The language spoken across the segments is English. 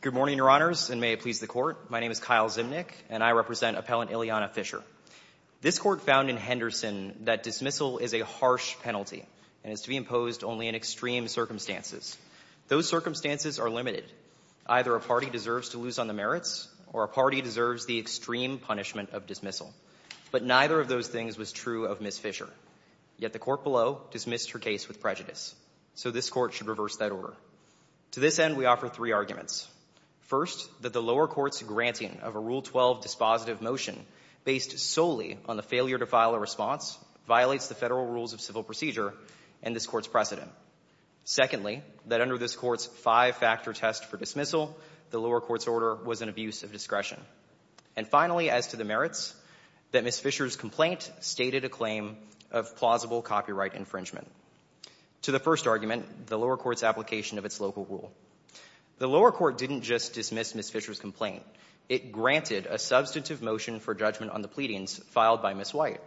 Good morning, Your Honors, and may it please the Court. My name is Kyle Zimnick, and I represent Appellant Ileana Fischer. This Court found in Henderson that dismissal is a harsh penalty and is to be imposed only in extreme circumstances. Those circumstances are limited. Either a party deserves to lose on the merits, or a party deserves the extreme punishment of dismissal. But neither of those things was true of Ms. Fischer. Yet the Court below dismissed her case with prejudice. So this Court should reverse that order. To this end, we offer three arguments. First, that the lower court's granting of a Rule 12 dispositive motion based solely on the failure to file a response violates the Federal Rules of Civil Procedure and this Court's precedent. Secondly, that under this Court's five-factor test for dismissal, the lower court's order was an abuse of discretion. And finally, as to the merits, that Ms. Fischer's complaint stated a claim of plausible copyright infringement. To the first argument, the lower court's application of its local rule. The lower court didn't just dismiss Ms. Fischer's complaint. It granted a substantive motion for judgment on the pleadings filed by Ms. White.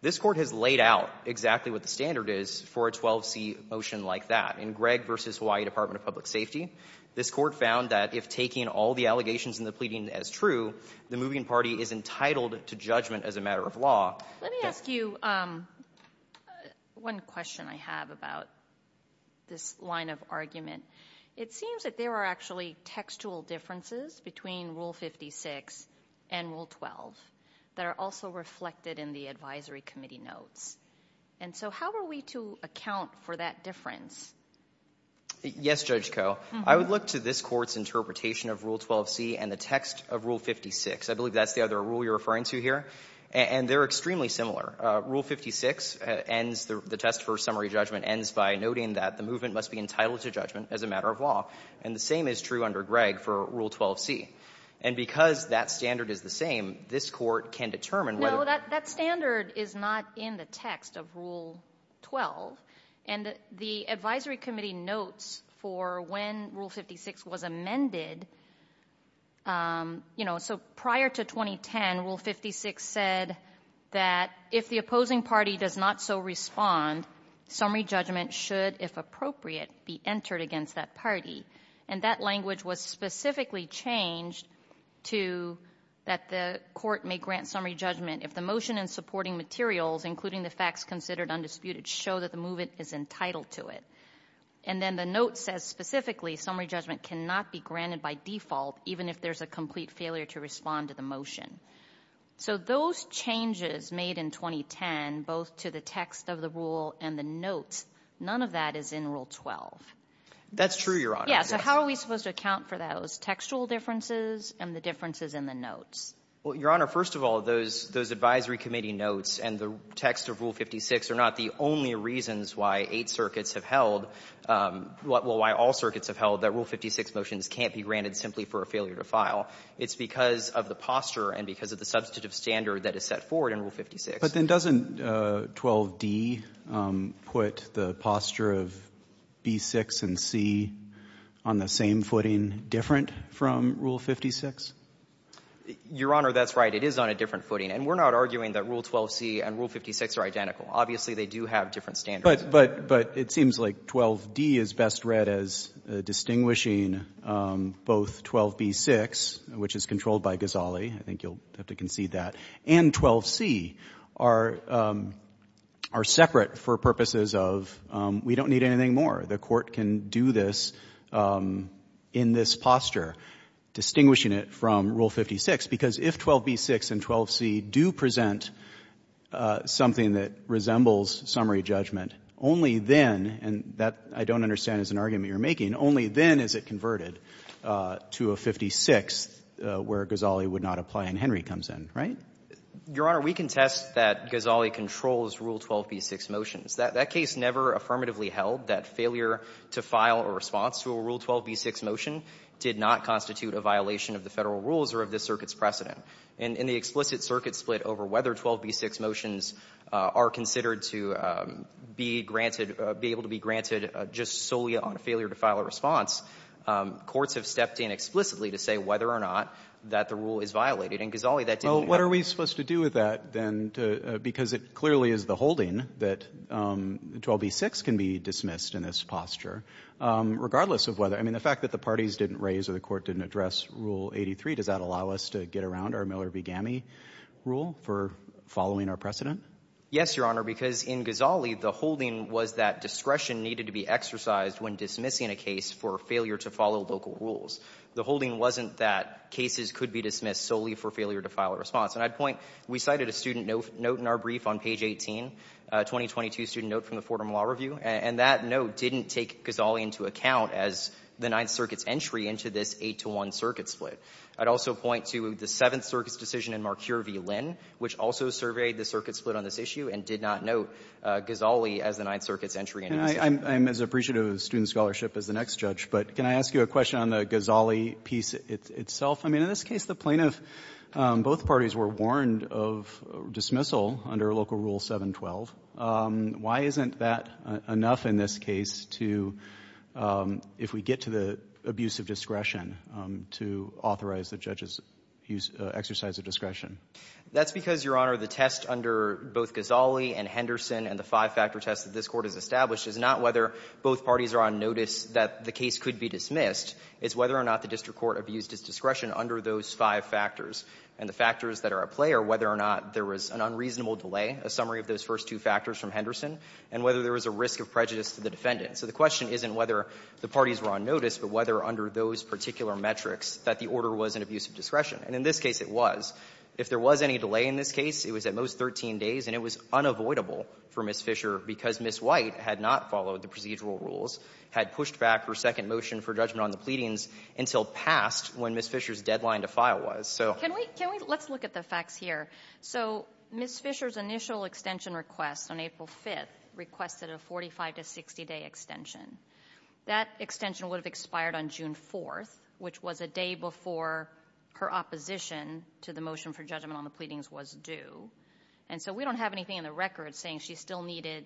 This Court has laid out exactly what the standard is for a 12C motion like that. In Gregg v. Hawaii Department of Public Safety, this Court found that if taking all the allegations in the pleading as true, the moving party is entitled to judgment as a matter of law. Let me ask you one question I have about this line of argument. It seems that there are actually textual differences between Rule 56 and Rule 12 that are also reflected in the advisory committee notes. And so how are we to account for that difference? Yes, Judge Koh. I would look to this Court's interpretation of Rule 12C and the text of Rule 56. I believe that's the other rule you're referring to here. And they're extremely similar. Rule 56 ends the test for summary judgment ends by noting that the movement must be entitled to judgment as a matter of law. And the same is true under Gregg for Rule 12C. And because that standard is the same, this Court can determine whether No, that standard is not in the text of Rule 12. And the advisory committee notes for when Rule 56 was amended, you know, so prior to 2010, Rule 56 said that if the opposing party does not so respond, summary judgment should, if appropriate, be entered against that party. And that language was specifically changed to that the Court may grant summary judgment if the motion and supporting materials, including the facts considered undisputed, show that the movement is entitled to it. And then the note says specifically summary judgment cannot be granted by default, even if there's a complete failure to respond to the motion. So those changes made in 2010, both to the text of the rule and the notes, none of that is in Rule 12. That's true, Your Honor. Yes. So how are we supposed to account for those textual differences and the differences in the notes? Well, Your Honor, first of all, those advisory committee notes and the text of Rule 56 are not the only reasons why eight circuits have held, well, why all circuits have held that Rule 56 motions can't be granted simply for a failure to file. It's because of the posture and because of the substantive standard that is set forward in Rule 56. But then doesn't 12d put the posture of B6 and C on the same footing different from Rule 56? Your Honor, that's right. It is on a different footing. And we're not arguing that Rule 12c and Rule 56 are identical. Obviously, they do have different standards. But it seems like 12d is best read as distinguishing both 12b6, which is controlled by Ghazali, I think you'll have to concede that, and 12c are separate for purposes of we don't need anything more. The Court can do this in this posture, distinguishing it from Rule 56, because if 12b6 and 12c do present something that resembles summary judgment, only then, and that I don't understand is an argument you're making, only then is it converted to a 56 where Ghazali would not apply and Henry comes in, right? Your Honor, we contest that Ghazali controls Rule 12b6 motions. That case never affirmatively held that failure to file a response to a Rule 12b6 motion did not constitute a violation of the Federal rules or of this circuit's precedent. And in the explicit circuit split over whether 12b6 motions are considered to be granted or be able to be granted just solely on a failure to file a response, courts have stepped in explicitly to say whether or not that the rule is violated. And Ghazali, that didn't happen. Well, what are we supposed to do with that, then, because it clearly is the holding that 12b6 can be dismissed in this posture, regardless of whether, I mean, the fact that the parties didn't raise or the Court didn't address Rule 83, does that allow us to get around our Miller v. Ghami rule for following our precedent? Yes, Your Honor, because in Ghazali, the holding was that discretion needed to be exercised when dismissing a case for failure to follow local rules. The holding wasn't that cases could be dismissed solely for failure to file a response. And I'd point to, we cited a student note in our brief on page 18, a 2022 student note from the Fordham Law Review, and that note didn't take Ghazali into account as the Ninth Circuit's entry into this 8-to-1 circuit split. I'd also point to the Seventh Circuit's decision in Marcure v. Lynn, which also surveyed the circuit split on this issue and did not note Ghazali as the Ninth Circuit's entry into this And I'm as appreciative of the student scholarship as the next judge, but can I ask you a question on the Ghazali piece itself? I mean, in this case, the plaintiff both parties were warned of dismissal under Local Rule 712. Why isn't that enough in this case to, if we get to the abuse of discretion, to authorize the judge's use, exercise of discretion? That's because, Your Honor, the test under both Ghazali and Henderson and the five-factor test that this Court has established is not whether both parties are on notice that the case could be dismissed. It's whether or not the district court abused its discretion under those five factors. And the factors that are at play are whether or not there was an unreasonable delay, a summary of those first two factors from Henderson, and whether there was a risk of prejudice to the defendant. So the question isn't whether the parties were on notice, but whether under those particular metrics that the order was an abuse of discretion. And in this case, it was. If there was any delay in this case, it was at most 13 days, and it was unavoidable for Ms. Fisher because Ms. White had not followed the procedural rules, had pushed back her second motion for judgment on the pleadings until past when Ms. Fisher's deadline to file was. So can we can we let's look at the facts here. So Ms. Fisher's initial extension request on April 5th requested a 45 to 60 day extension. That extension would have expired on June 4th, which was a day before her opposition to the motion for judgment on the pleadings was due. And so we don't have anything in the record saying she still needed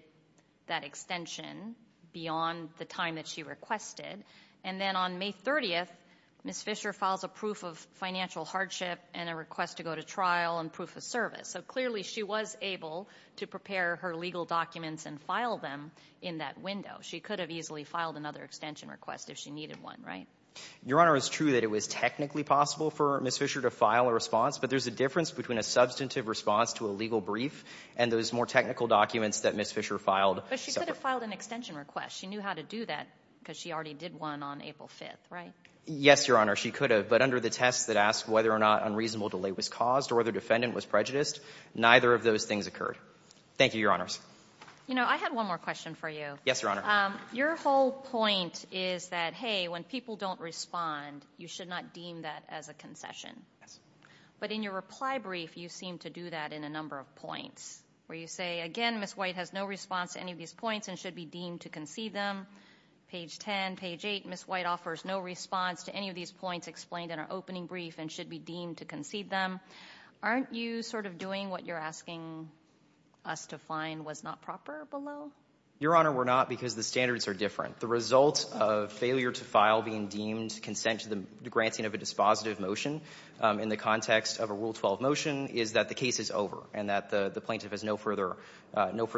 that extension beyond the time that she requested. And then on May 30th, Ms. Fisher files a proof of financial hardship and a request to go to trial and proof of service. So clearly she was able to prepare her legal documents and file them in that window. She could have easily filed another extension request if she needed one, right? Your Honor, it's true that it was technically possible for Ms. Fisher to file a response, but there's a difference between a substantive response to a legal brief and those more technical documents that Ms. Fisher filed. But she could have filed an extension request. She knew how to do that because she already did one on April 5th, right? Yes, Your Honor. She could have. But under the tests that ask whether or not unreasonable delay was caused or the defendant was prejudiced, neither of those things occurred. Thank you, Your Honors. You know, I had one more question for you. Yes, Your Honor. Your whole point is that, hey, when people don't respond, you should not deem that as a concession. But in your reply brief, you seem to do that in a number of points where you say, again, Ms. White has no response to any of these points and should be deemed to concede them. Page 10, page 8, Ms. White offers no response to any of these points explained in her opening brief and should be deemed to concede them. Aren't you sort of doing what you're asking us to find was not proper below? Your Honor, we're not because the standards are different. The result of failure to file being deemed consent to the granting of a dispositive motion in the context of a Rule 12 motion is that the case is over and that the plaintiff has no further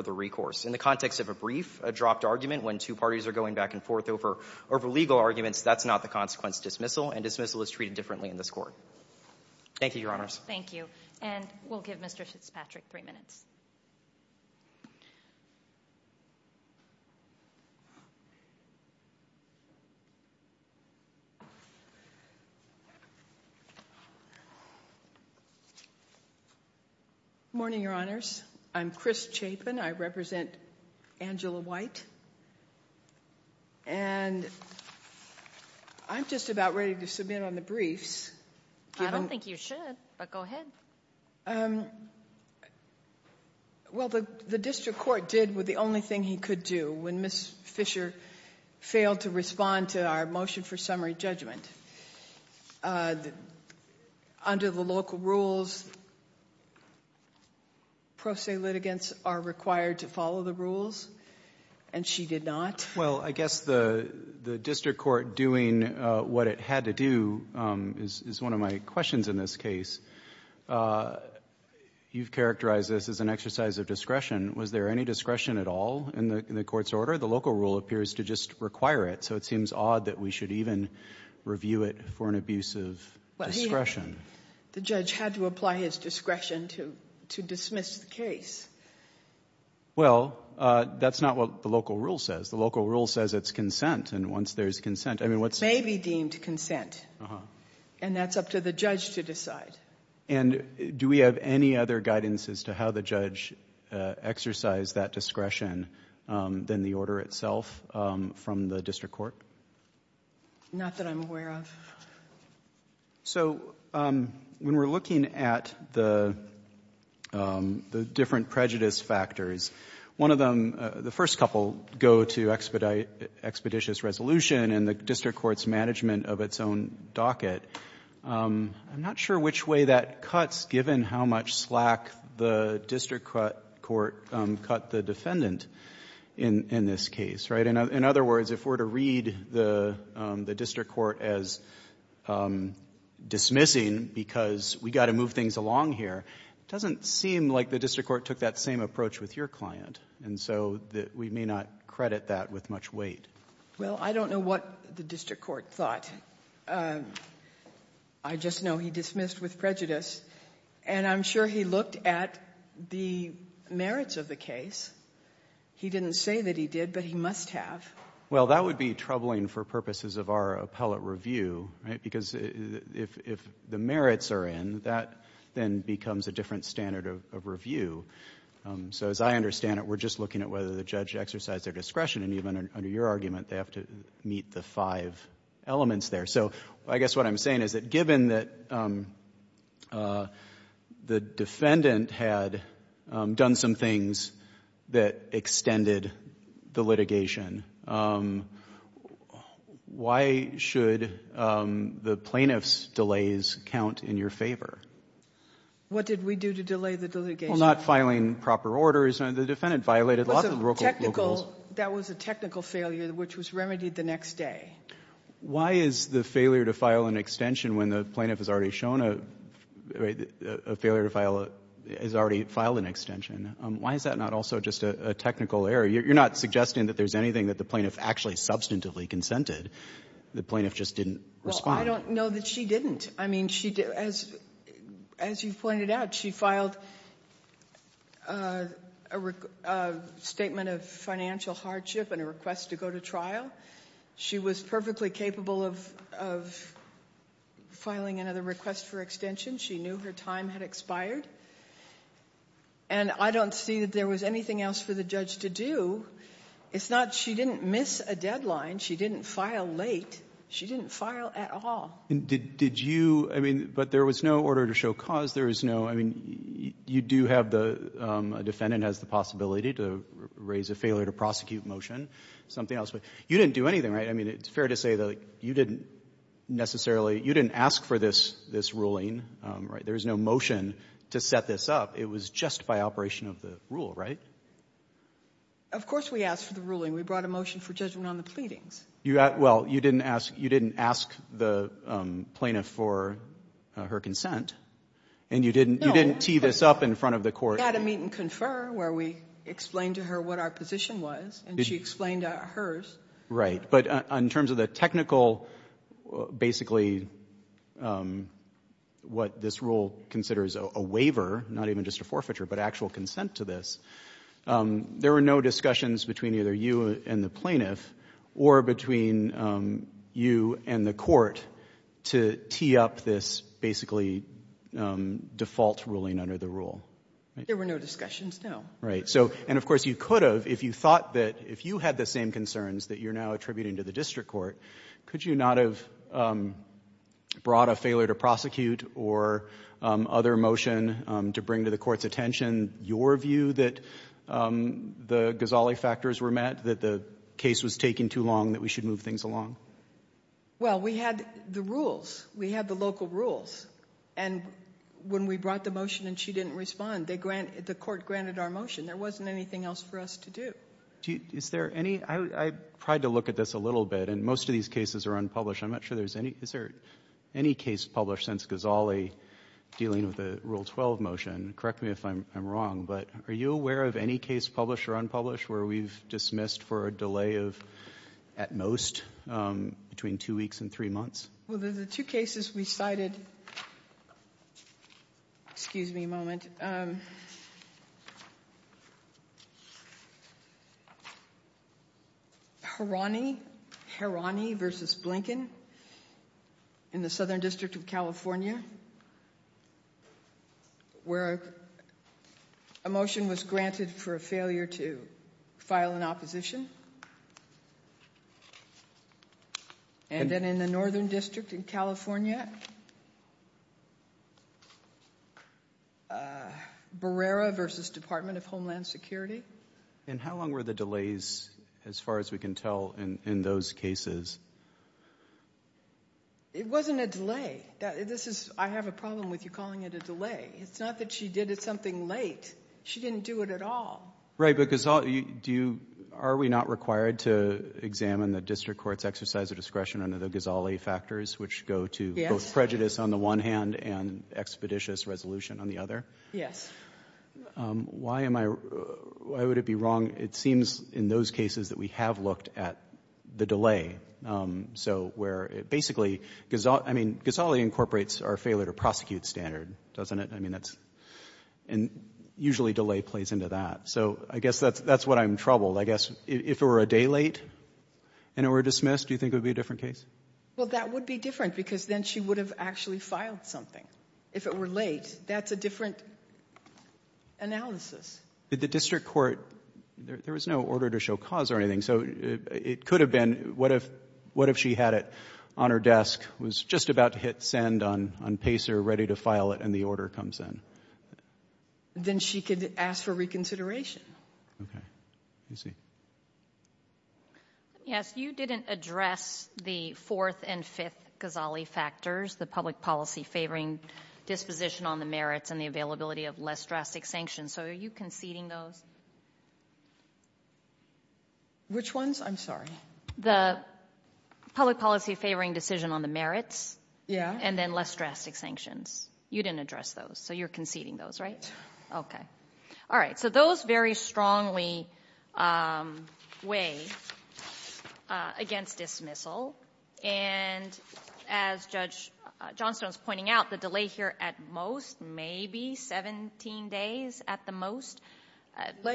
recourse. In the context of a brief, a dropped argument when two parties are going back and forth over legal arguments, that's not the consequence dismissal and dismissal is treated differently in this court. Thank you, Your Honors. Thank you. And we'll give Mr. Fitzpatrick three minutes. Morning, Your Honors. I'm Chris Chapin. I represent Angela White. And I'm just about ready to submit on the briefs. I don't think you should, but go ahead. Well, the district court did with the only thing he could do when Ms. Fisher failed to respond to our motion for summary judgment. Under the local rules, pro se litigants are required to follow the rules and she did not. Well, I guess the district court doing what it had to do is one of my questions in this case. You've characterized this as an exercise of discretion. Was there any discretion at all in the court's order? The local rule appears to just require it, so it seems odd that we should even review it for an abuse of discretion. The judge had to apply his discretion to dismiss the case. Well, that's not what the local rule says. The local rule says it's consent. And once there's consent, I mean, what's... It may be deemed consent. And that's up to the judge to decide. And do we have any other guidance as to how the judge exercised that discretion than the order itself from the district court? Not that I'm aware of. So when we're looking at the different prejudice factors, one of them, the first couple go to expeditious resolution and the district court's management of its own docket. I'm not sure which way that cuts, given how much slack the district court cut the defendant in this case, right? In other words, if we're to read the district court as dismissing because we've got to move things along here, it doesn't seem like the district court took that same approach with your client. And so we may not credit that with much weight. Well, I don't know what the district court thought. I just know he dismissed with prejudice. And I'm sure he looked at the merits of the case. He didn't say that he did, but he must have. Well, that would be troubling for purposes of our appellate review, right? Because if the merits are in, that then becomes a different standard of review. So as I understand it, we're just looking at whether the judge exercised their discretion. And even under your argument, they have to meet the five elements there. So I guess what I'm saying is that given that the defendant had done some things that extended the litigation, why should the plaintiff's delays count in your favor? What did we do to delay the litigation? Well, not filing proper orders. The defendant violated a lot of the local rules. That was a technical failure, which was remedied the next day. Why is the failure to file an extension when the plaintiff has already shown a failure to file a — has already filed an extension? Why is that not also just a technical error? You're not suggesting that there's anything that the plaintiff actually substantively consented. The plaintiff just didn't respond. Well, I don't know that she didn't. I mean, she — as you pointed out, she filed a statement of financial hardship and a request to go to trial. She was perfectly capable of filing another request for extension. She knew her time had expired. And I don't see that there was anything else for the judge to do. It's not — she didn't miss a deadline. She didn't file late. She didn't file at all. And did you — I mean, but there was no order to show cause. There was no — I mean, you do have the — a defendant has the possibility to raise a failure-to-prosecute motion, something else. But you didn't do anything, right? I mean, it's fair to say that you didn't necessarily — you didn't ask for this ruling, right? There was no motion to set this up. It was just by operation of the rule, right? Of course we asked for the ruling. We brought a motion for judgment on the pleadings. You — well, you didn't ask — you didn't ask the plaintiff for her consent. And you didn't — you didn't tee this up in front of the court. We had a meet-and-confirm where we explained to her what our position was, and she explained hers. But in terms of the technical, basically, what this rule considers a waiver, not even just a forfeiture, but actual consent to this, there were no discussions between either you and the plaintiff or between you and the court to tee up this, basically, default ruling under the rule, right? There were no discussions, no. Right. So — and, of course, you could have, if you thought that — if you had the same concerns that you're now attributing to the district court, could you not have brought a failure to prosecute or other motion to bring to the court's attention your view that the Ghazali factors were met, that the case was taking too long, that we should move things along? Well, we had the rules. We had the local rules. And when we brought the motion and she didn't respond, they granted — the court granted our motion. There wasn't anything else for us to do. Is there any — I tried to look at this a little bit, and most of these cases are unpublished. I'm not sure there's any — is there any case published since Ghazali dealing with the Rule 12 motion? Correct me if I'm wrong, but are you aware of any case published or unpublished where we've dismissed for a delay of, at most, between two weeks and three months? Well, there's two cases we cited — excuse me a moment — Harani versus Blinken in the Southern District of California, where a motion was granted for a failure to file an opposition. And then in the Northern District in California, Barrera versus Department of Homeland Security. And how long were the delays, as far as we can tell, in those cases? It wasn't a delay. This is — I have a problem with you calling it a delay. It's not that she did it something late. She didn't do it at all. Right, but Ghazali — do you — are we not required to examine the district court's exercise of discretion under the Ghazali factors, which go to both prejudice on the one hand and expeditious resolution on the other? Yes. Why am I — why would it be wrong? It seems in those cases that we have looked at the delay. So where — basically, Ghazali — I mean, Ghazali incorporates our failure-to-prosecute standard, doesn't it? I mean, that's — and usually delay plays into that. So I guess that's what I'm troubled. I guess if it were a day late and it were dismissed, do you think it would be a different case? Well, that would be different, because then she would have actually filed something. If it were late, that's a different analysis. The district court — there was no order to show cause or anything. So it could have been what if — what if she had it on her desk, was just about to hit send on PACER, ready to file it, and the order comes in? Then she could ask for reconsideration. I see. Yes. You didn't address the fourth and fifth Ghazali factors, the public policy favoring disposition on the merits and the availability of less drastic sanctions. So are you conceding those? Which ones? I'm sorry. The public policy favoring decision on the merits. Yeah. And then less drastic sanctions. You didn't address those. So you're conceding those, right? Okay. All right. So those very strongly weigh against dismissal. And as Judge Johnstone's pointing out, the delay here at most, maybe 17 days at the most,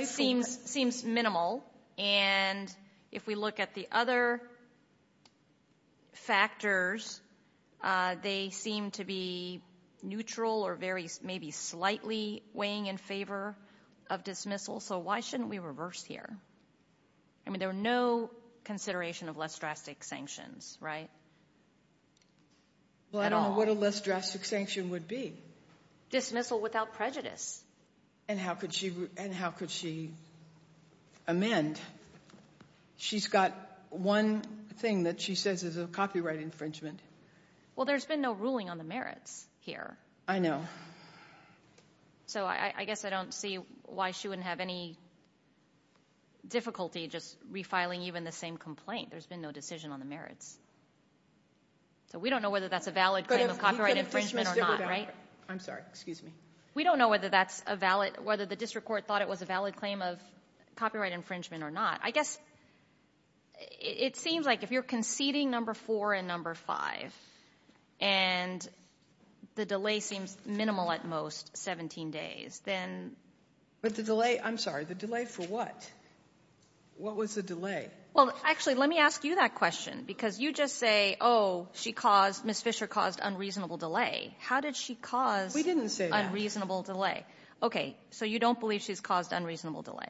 seems minimal. And if we look at the other factors, they seem to be neutral or very — maybe slightly weighing in favor of dismissal. So why shouldn't we reverse here? I mean, there were no consideration of less drastic sanctions, right? At all. Well, I don't know what a less drastic sanction would be. Dismissal without prejudice. And how could she amend? She's got one thing that she says is a copyright infringement. Well, there's been no ruling on the merits here. I know. So I guess I don't see why she wouldn't have any difficulty just refiling even the same complaint. There's been no decision on the merits. So we don't know whether that's a valid claim of copyright infringement or not, right? I'm sorry. Excuse me. We don't know whether that's a valid — whether the district court thought it was a valid claim of copyright infringement or not. I guess it seems like if you're conceding number four and number five, and the delay seems minimal at most, 17 days, then — But the delay — I'm sorry, the delay for what? What was the delay? Well, actually, let me ask you that question. Because you just say, oh, she caused — Ms. Fisher caused unreasonable delay. How did she cause — We didn't say that. — unreasonable delay. Okay. So you don't believe she's caused unreasonable delay.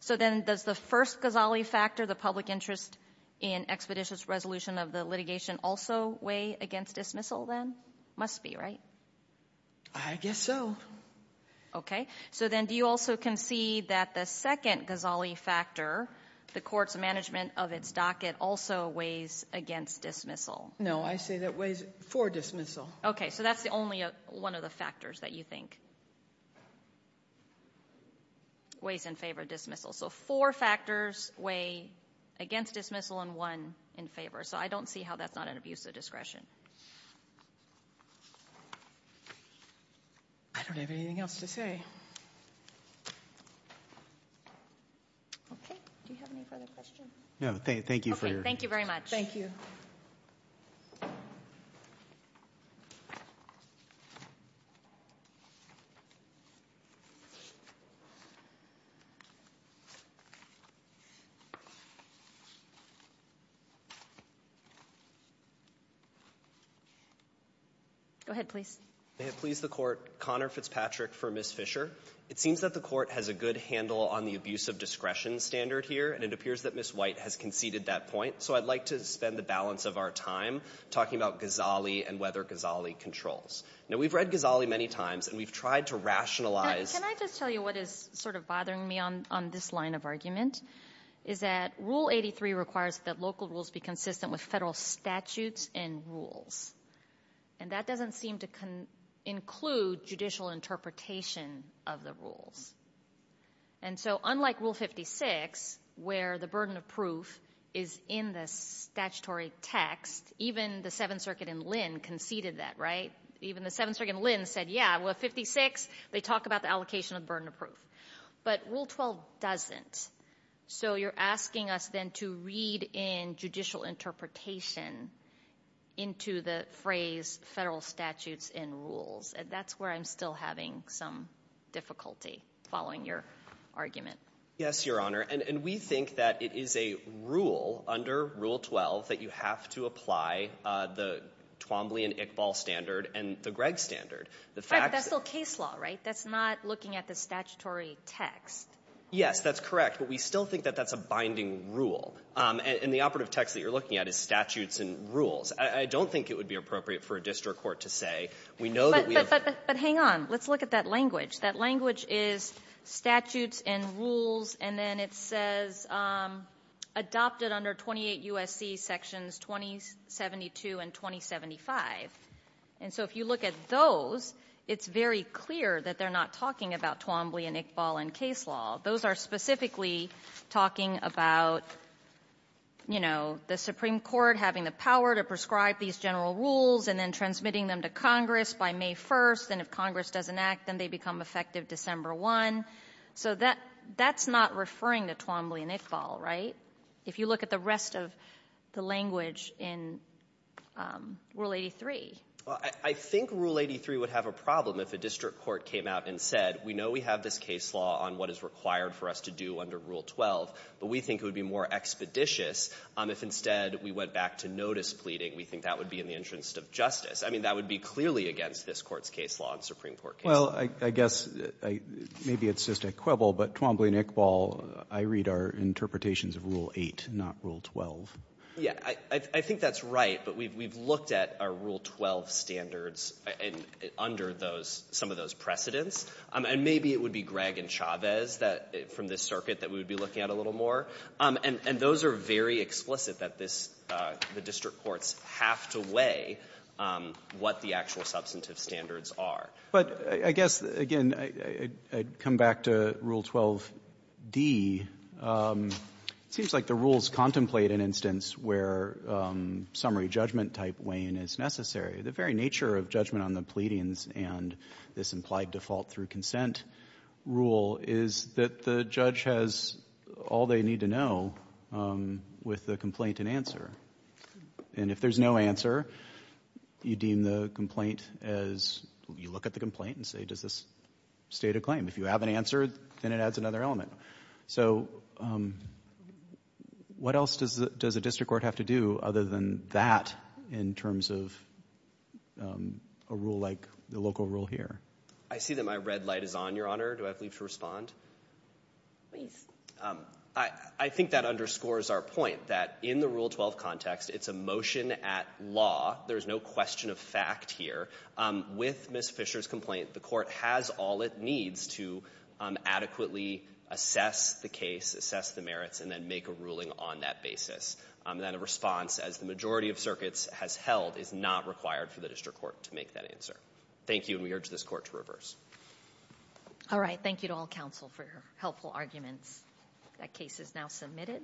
So then does the first Ghazali factor, the public interest in expeditious resolution of the litigation, also weigh against dismissal then? Must be, right? I guess so. Okay. So then do you also concede that the second Ghazali factor, the court's management of its docket, also weighs against dismissal? No. I say that weighs for dismissal. Okay. Okay. So that's the only one of the factors that you think weighs in favor of dismissal. So four factors weigh against dismissal and one in favor. So I don't see how that's not an abuse of discretion. I don't have anything else to say. Okay. Do you have any further questions? No. Thank you for your — Okay. Thank you very much. Thank you. Thank you. Go ahead, please. May it please the Court, Connor Fitzpatrick for Ms. Fisher. It seems that the Court has a good handle on the abuse of discretion standard here and it appears that Ms. White has conceded that point. So, I'd like to spend the balance of our time talking about Ghazali and whether Ghazali controls. Now, we've read Ghazali many times and we've tried to rationalize. Can I just tell you what is sort of bothering me on this line of argument? Is that Rule 83 requires that local rules be consistent with federal statutes and rules. And that doesn't seem to include judicial interpretation of the rules. And so, unlike Rule 56, where the burden of proof is in the statutory text, even the Seventh Circuit in Lynn conceded that, right? Even the Seventh Circuit in Lynn said, yeah, well, 56, they talk about the allocation of burden of proof. But Rule 12 doesn't. So you're asking us then to read in judicial interpretation into the phrase federal statutes and rules. And that's where I'm still having some difficulty following your argument. Yes, Your Honor. And we think that it is a rule under Rule 12 that you have to apply the Twombly and Iqbal standard and the Gregg standard. The fact that's still case law, right? That's not looking at the statutory text. Yes, that's correct. But we still think that that's a binding rule. And the operative text that you're looking at is statutes and rules. I don't think it would be appropriate for a district court to say we know that we have But hang on. Let's look at that language. That language is statutes and rules, and then it says adopted under 28 U.S.C. Sections 2072 and 2075. And so if you look at those, it's very clear that they're not talking about Twombly and Iqbal in case law. Those are specifically talking about, you know, the Supreme Court having the power to prescribe these general rules and then transmitting them to Congress by May 1st. And if Congress doesn't act, then they become effective December 1. So that's not referring to Twombly and Iqbal, right? If you look at the rest of the language in Rule 83. Well, I think Rule 83 would have a problem if a district court came out and said, we know we have this case law on what is required for us to do under Rule 12, but we think it would be more expeditious if instead we went back to notice pleading. We think that would be in the interest of justice. I mean, that would be clearly against this Court's case law and Supreme Court case law. Well, I guess maybe it's just a quibble, but Twombly and Iqbal, I read, are interpretations of Rule 8, not Rule 12. Yeah, I think that's right. But we've looked at our Rule 12 standards under some of those precedents. And maybe it would be Gregg and Chavez from this circuit that we would be looking at a little more. And those are very explicit, that this the district courts have to weigh what the actual substantive standards are. But I guess, again, I'd come back to Rule 12d. It seems like the rules contemplate an instance where summary judgment-type weighing is necessary. The very nature of judgment on the pleadings and this implied default through the rule is that the judge has all they need to know with the complaint and answer. And if there's no answer, you deem the complaint as, you look at the complaint and say, does this state a claim? If you have an answer, then it adds another element. So what else does a district court have to do other than that in terms of a rule like the local rule here? I see that my red light is on, Your Honor. Do I have leave to respond? Please. I think that underscores our point that in the Rule 12 context, it's a motion at law. There's no question of fact here. With Ms. Fisher's complaint, the court has all it needs to adequately assess the case, assess the merits, and then make a ruling on that basis. And then a response, as the majority of circuits has held, is not required for the district court to make that answer. Thank you, and we urge this court to reverse. All right. Thank you to all counsel for your helpful arguments. That case is now submitted.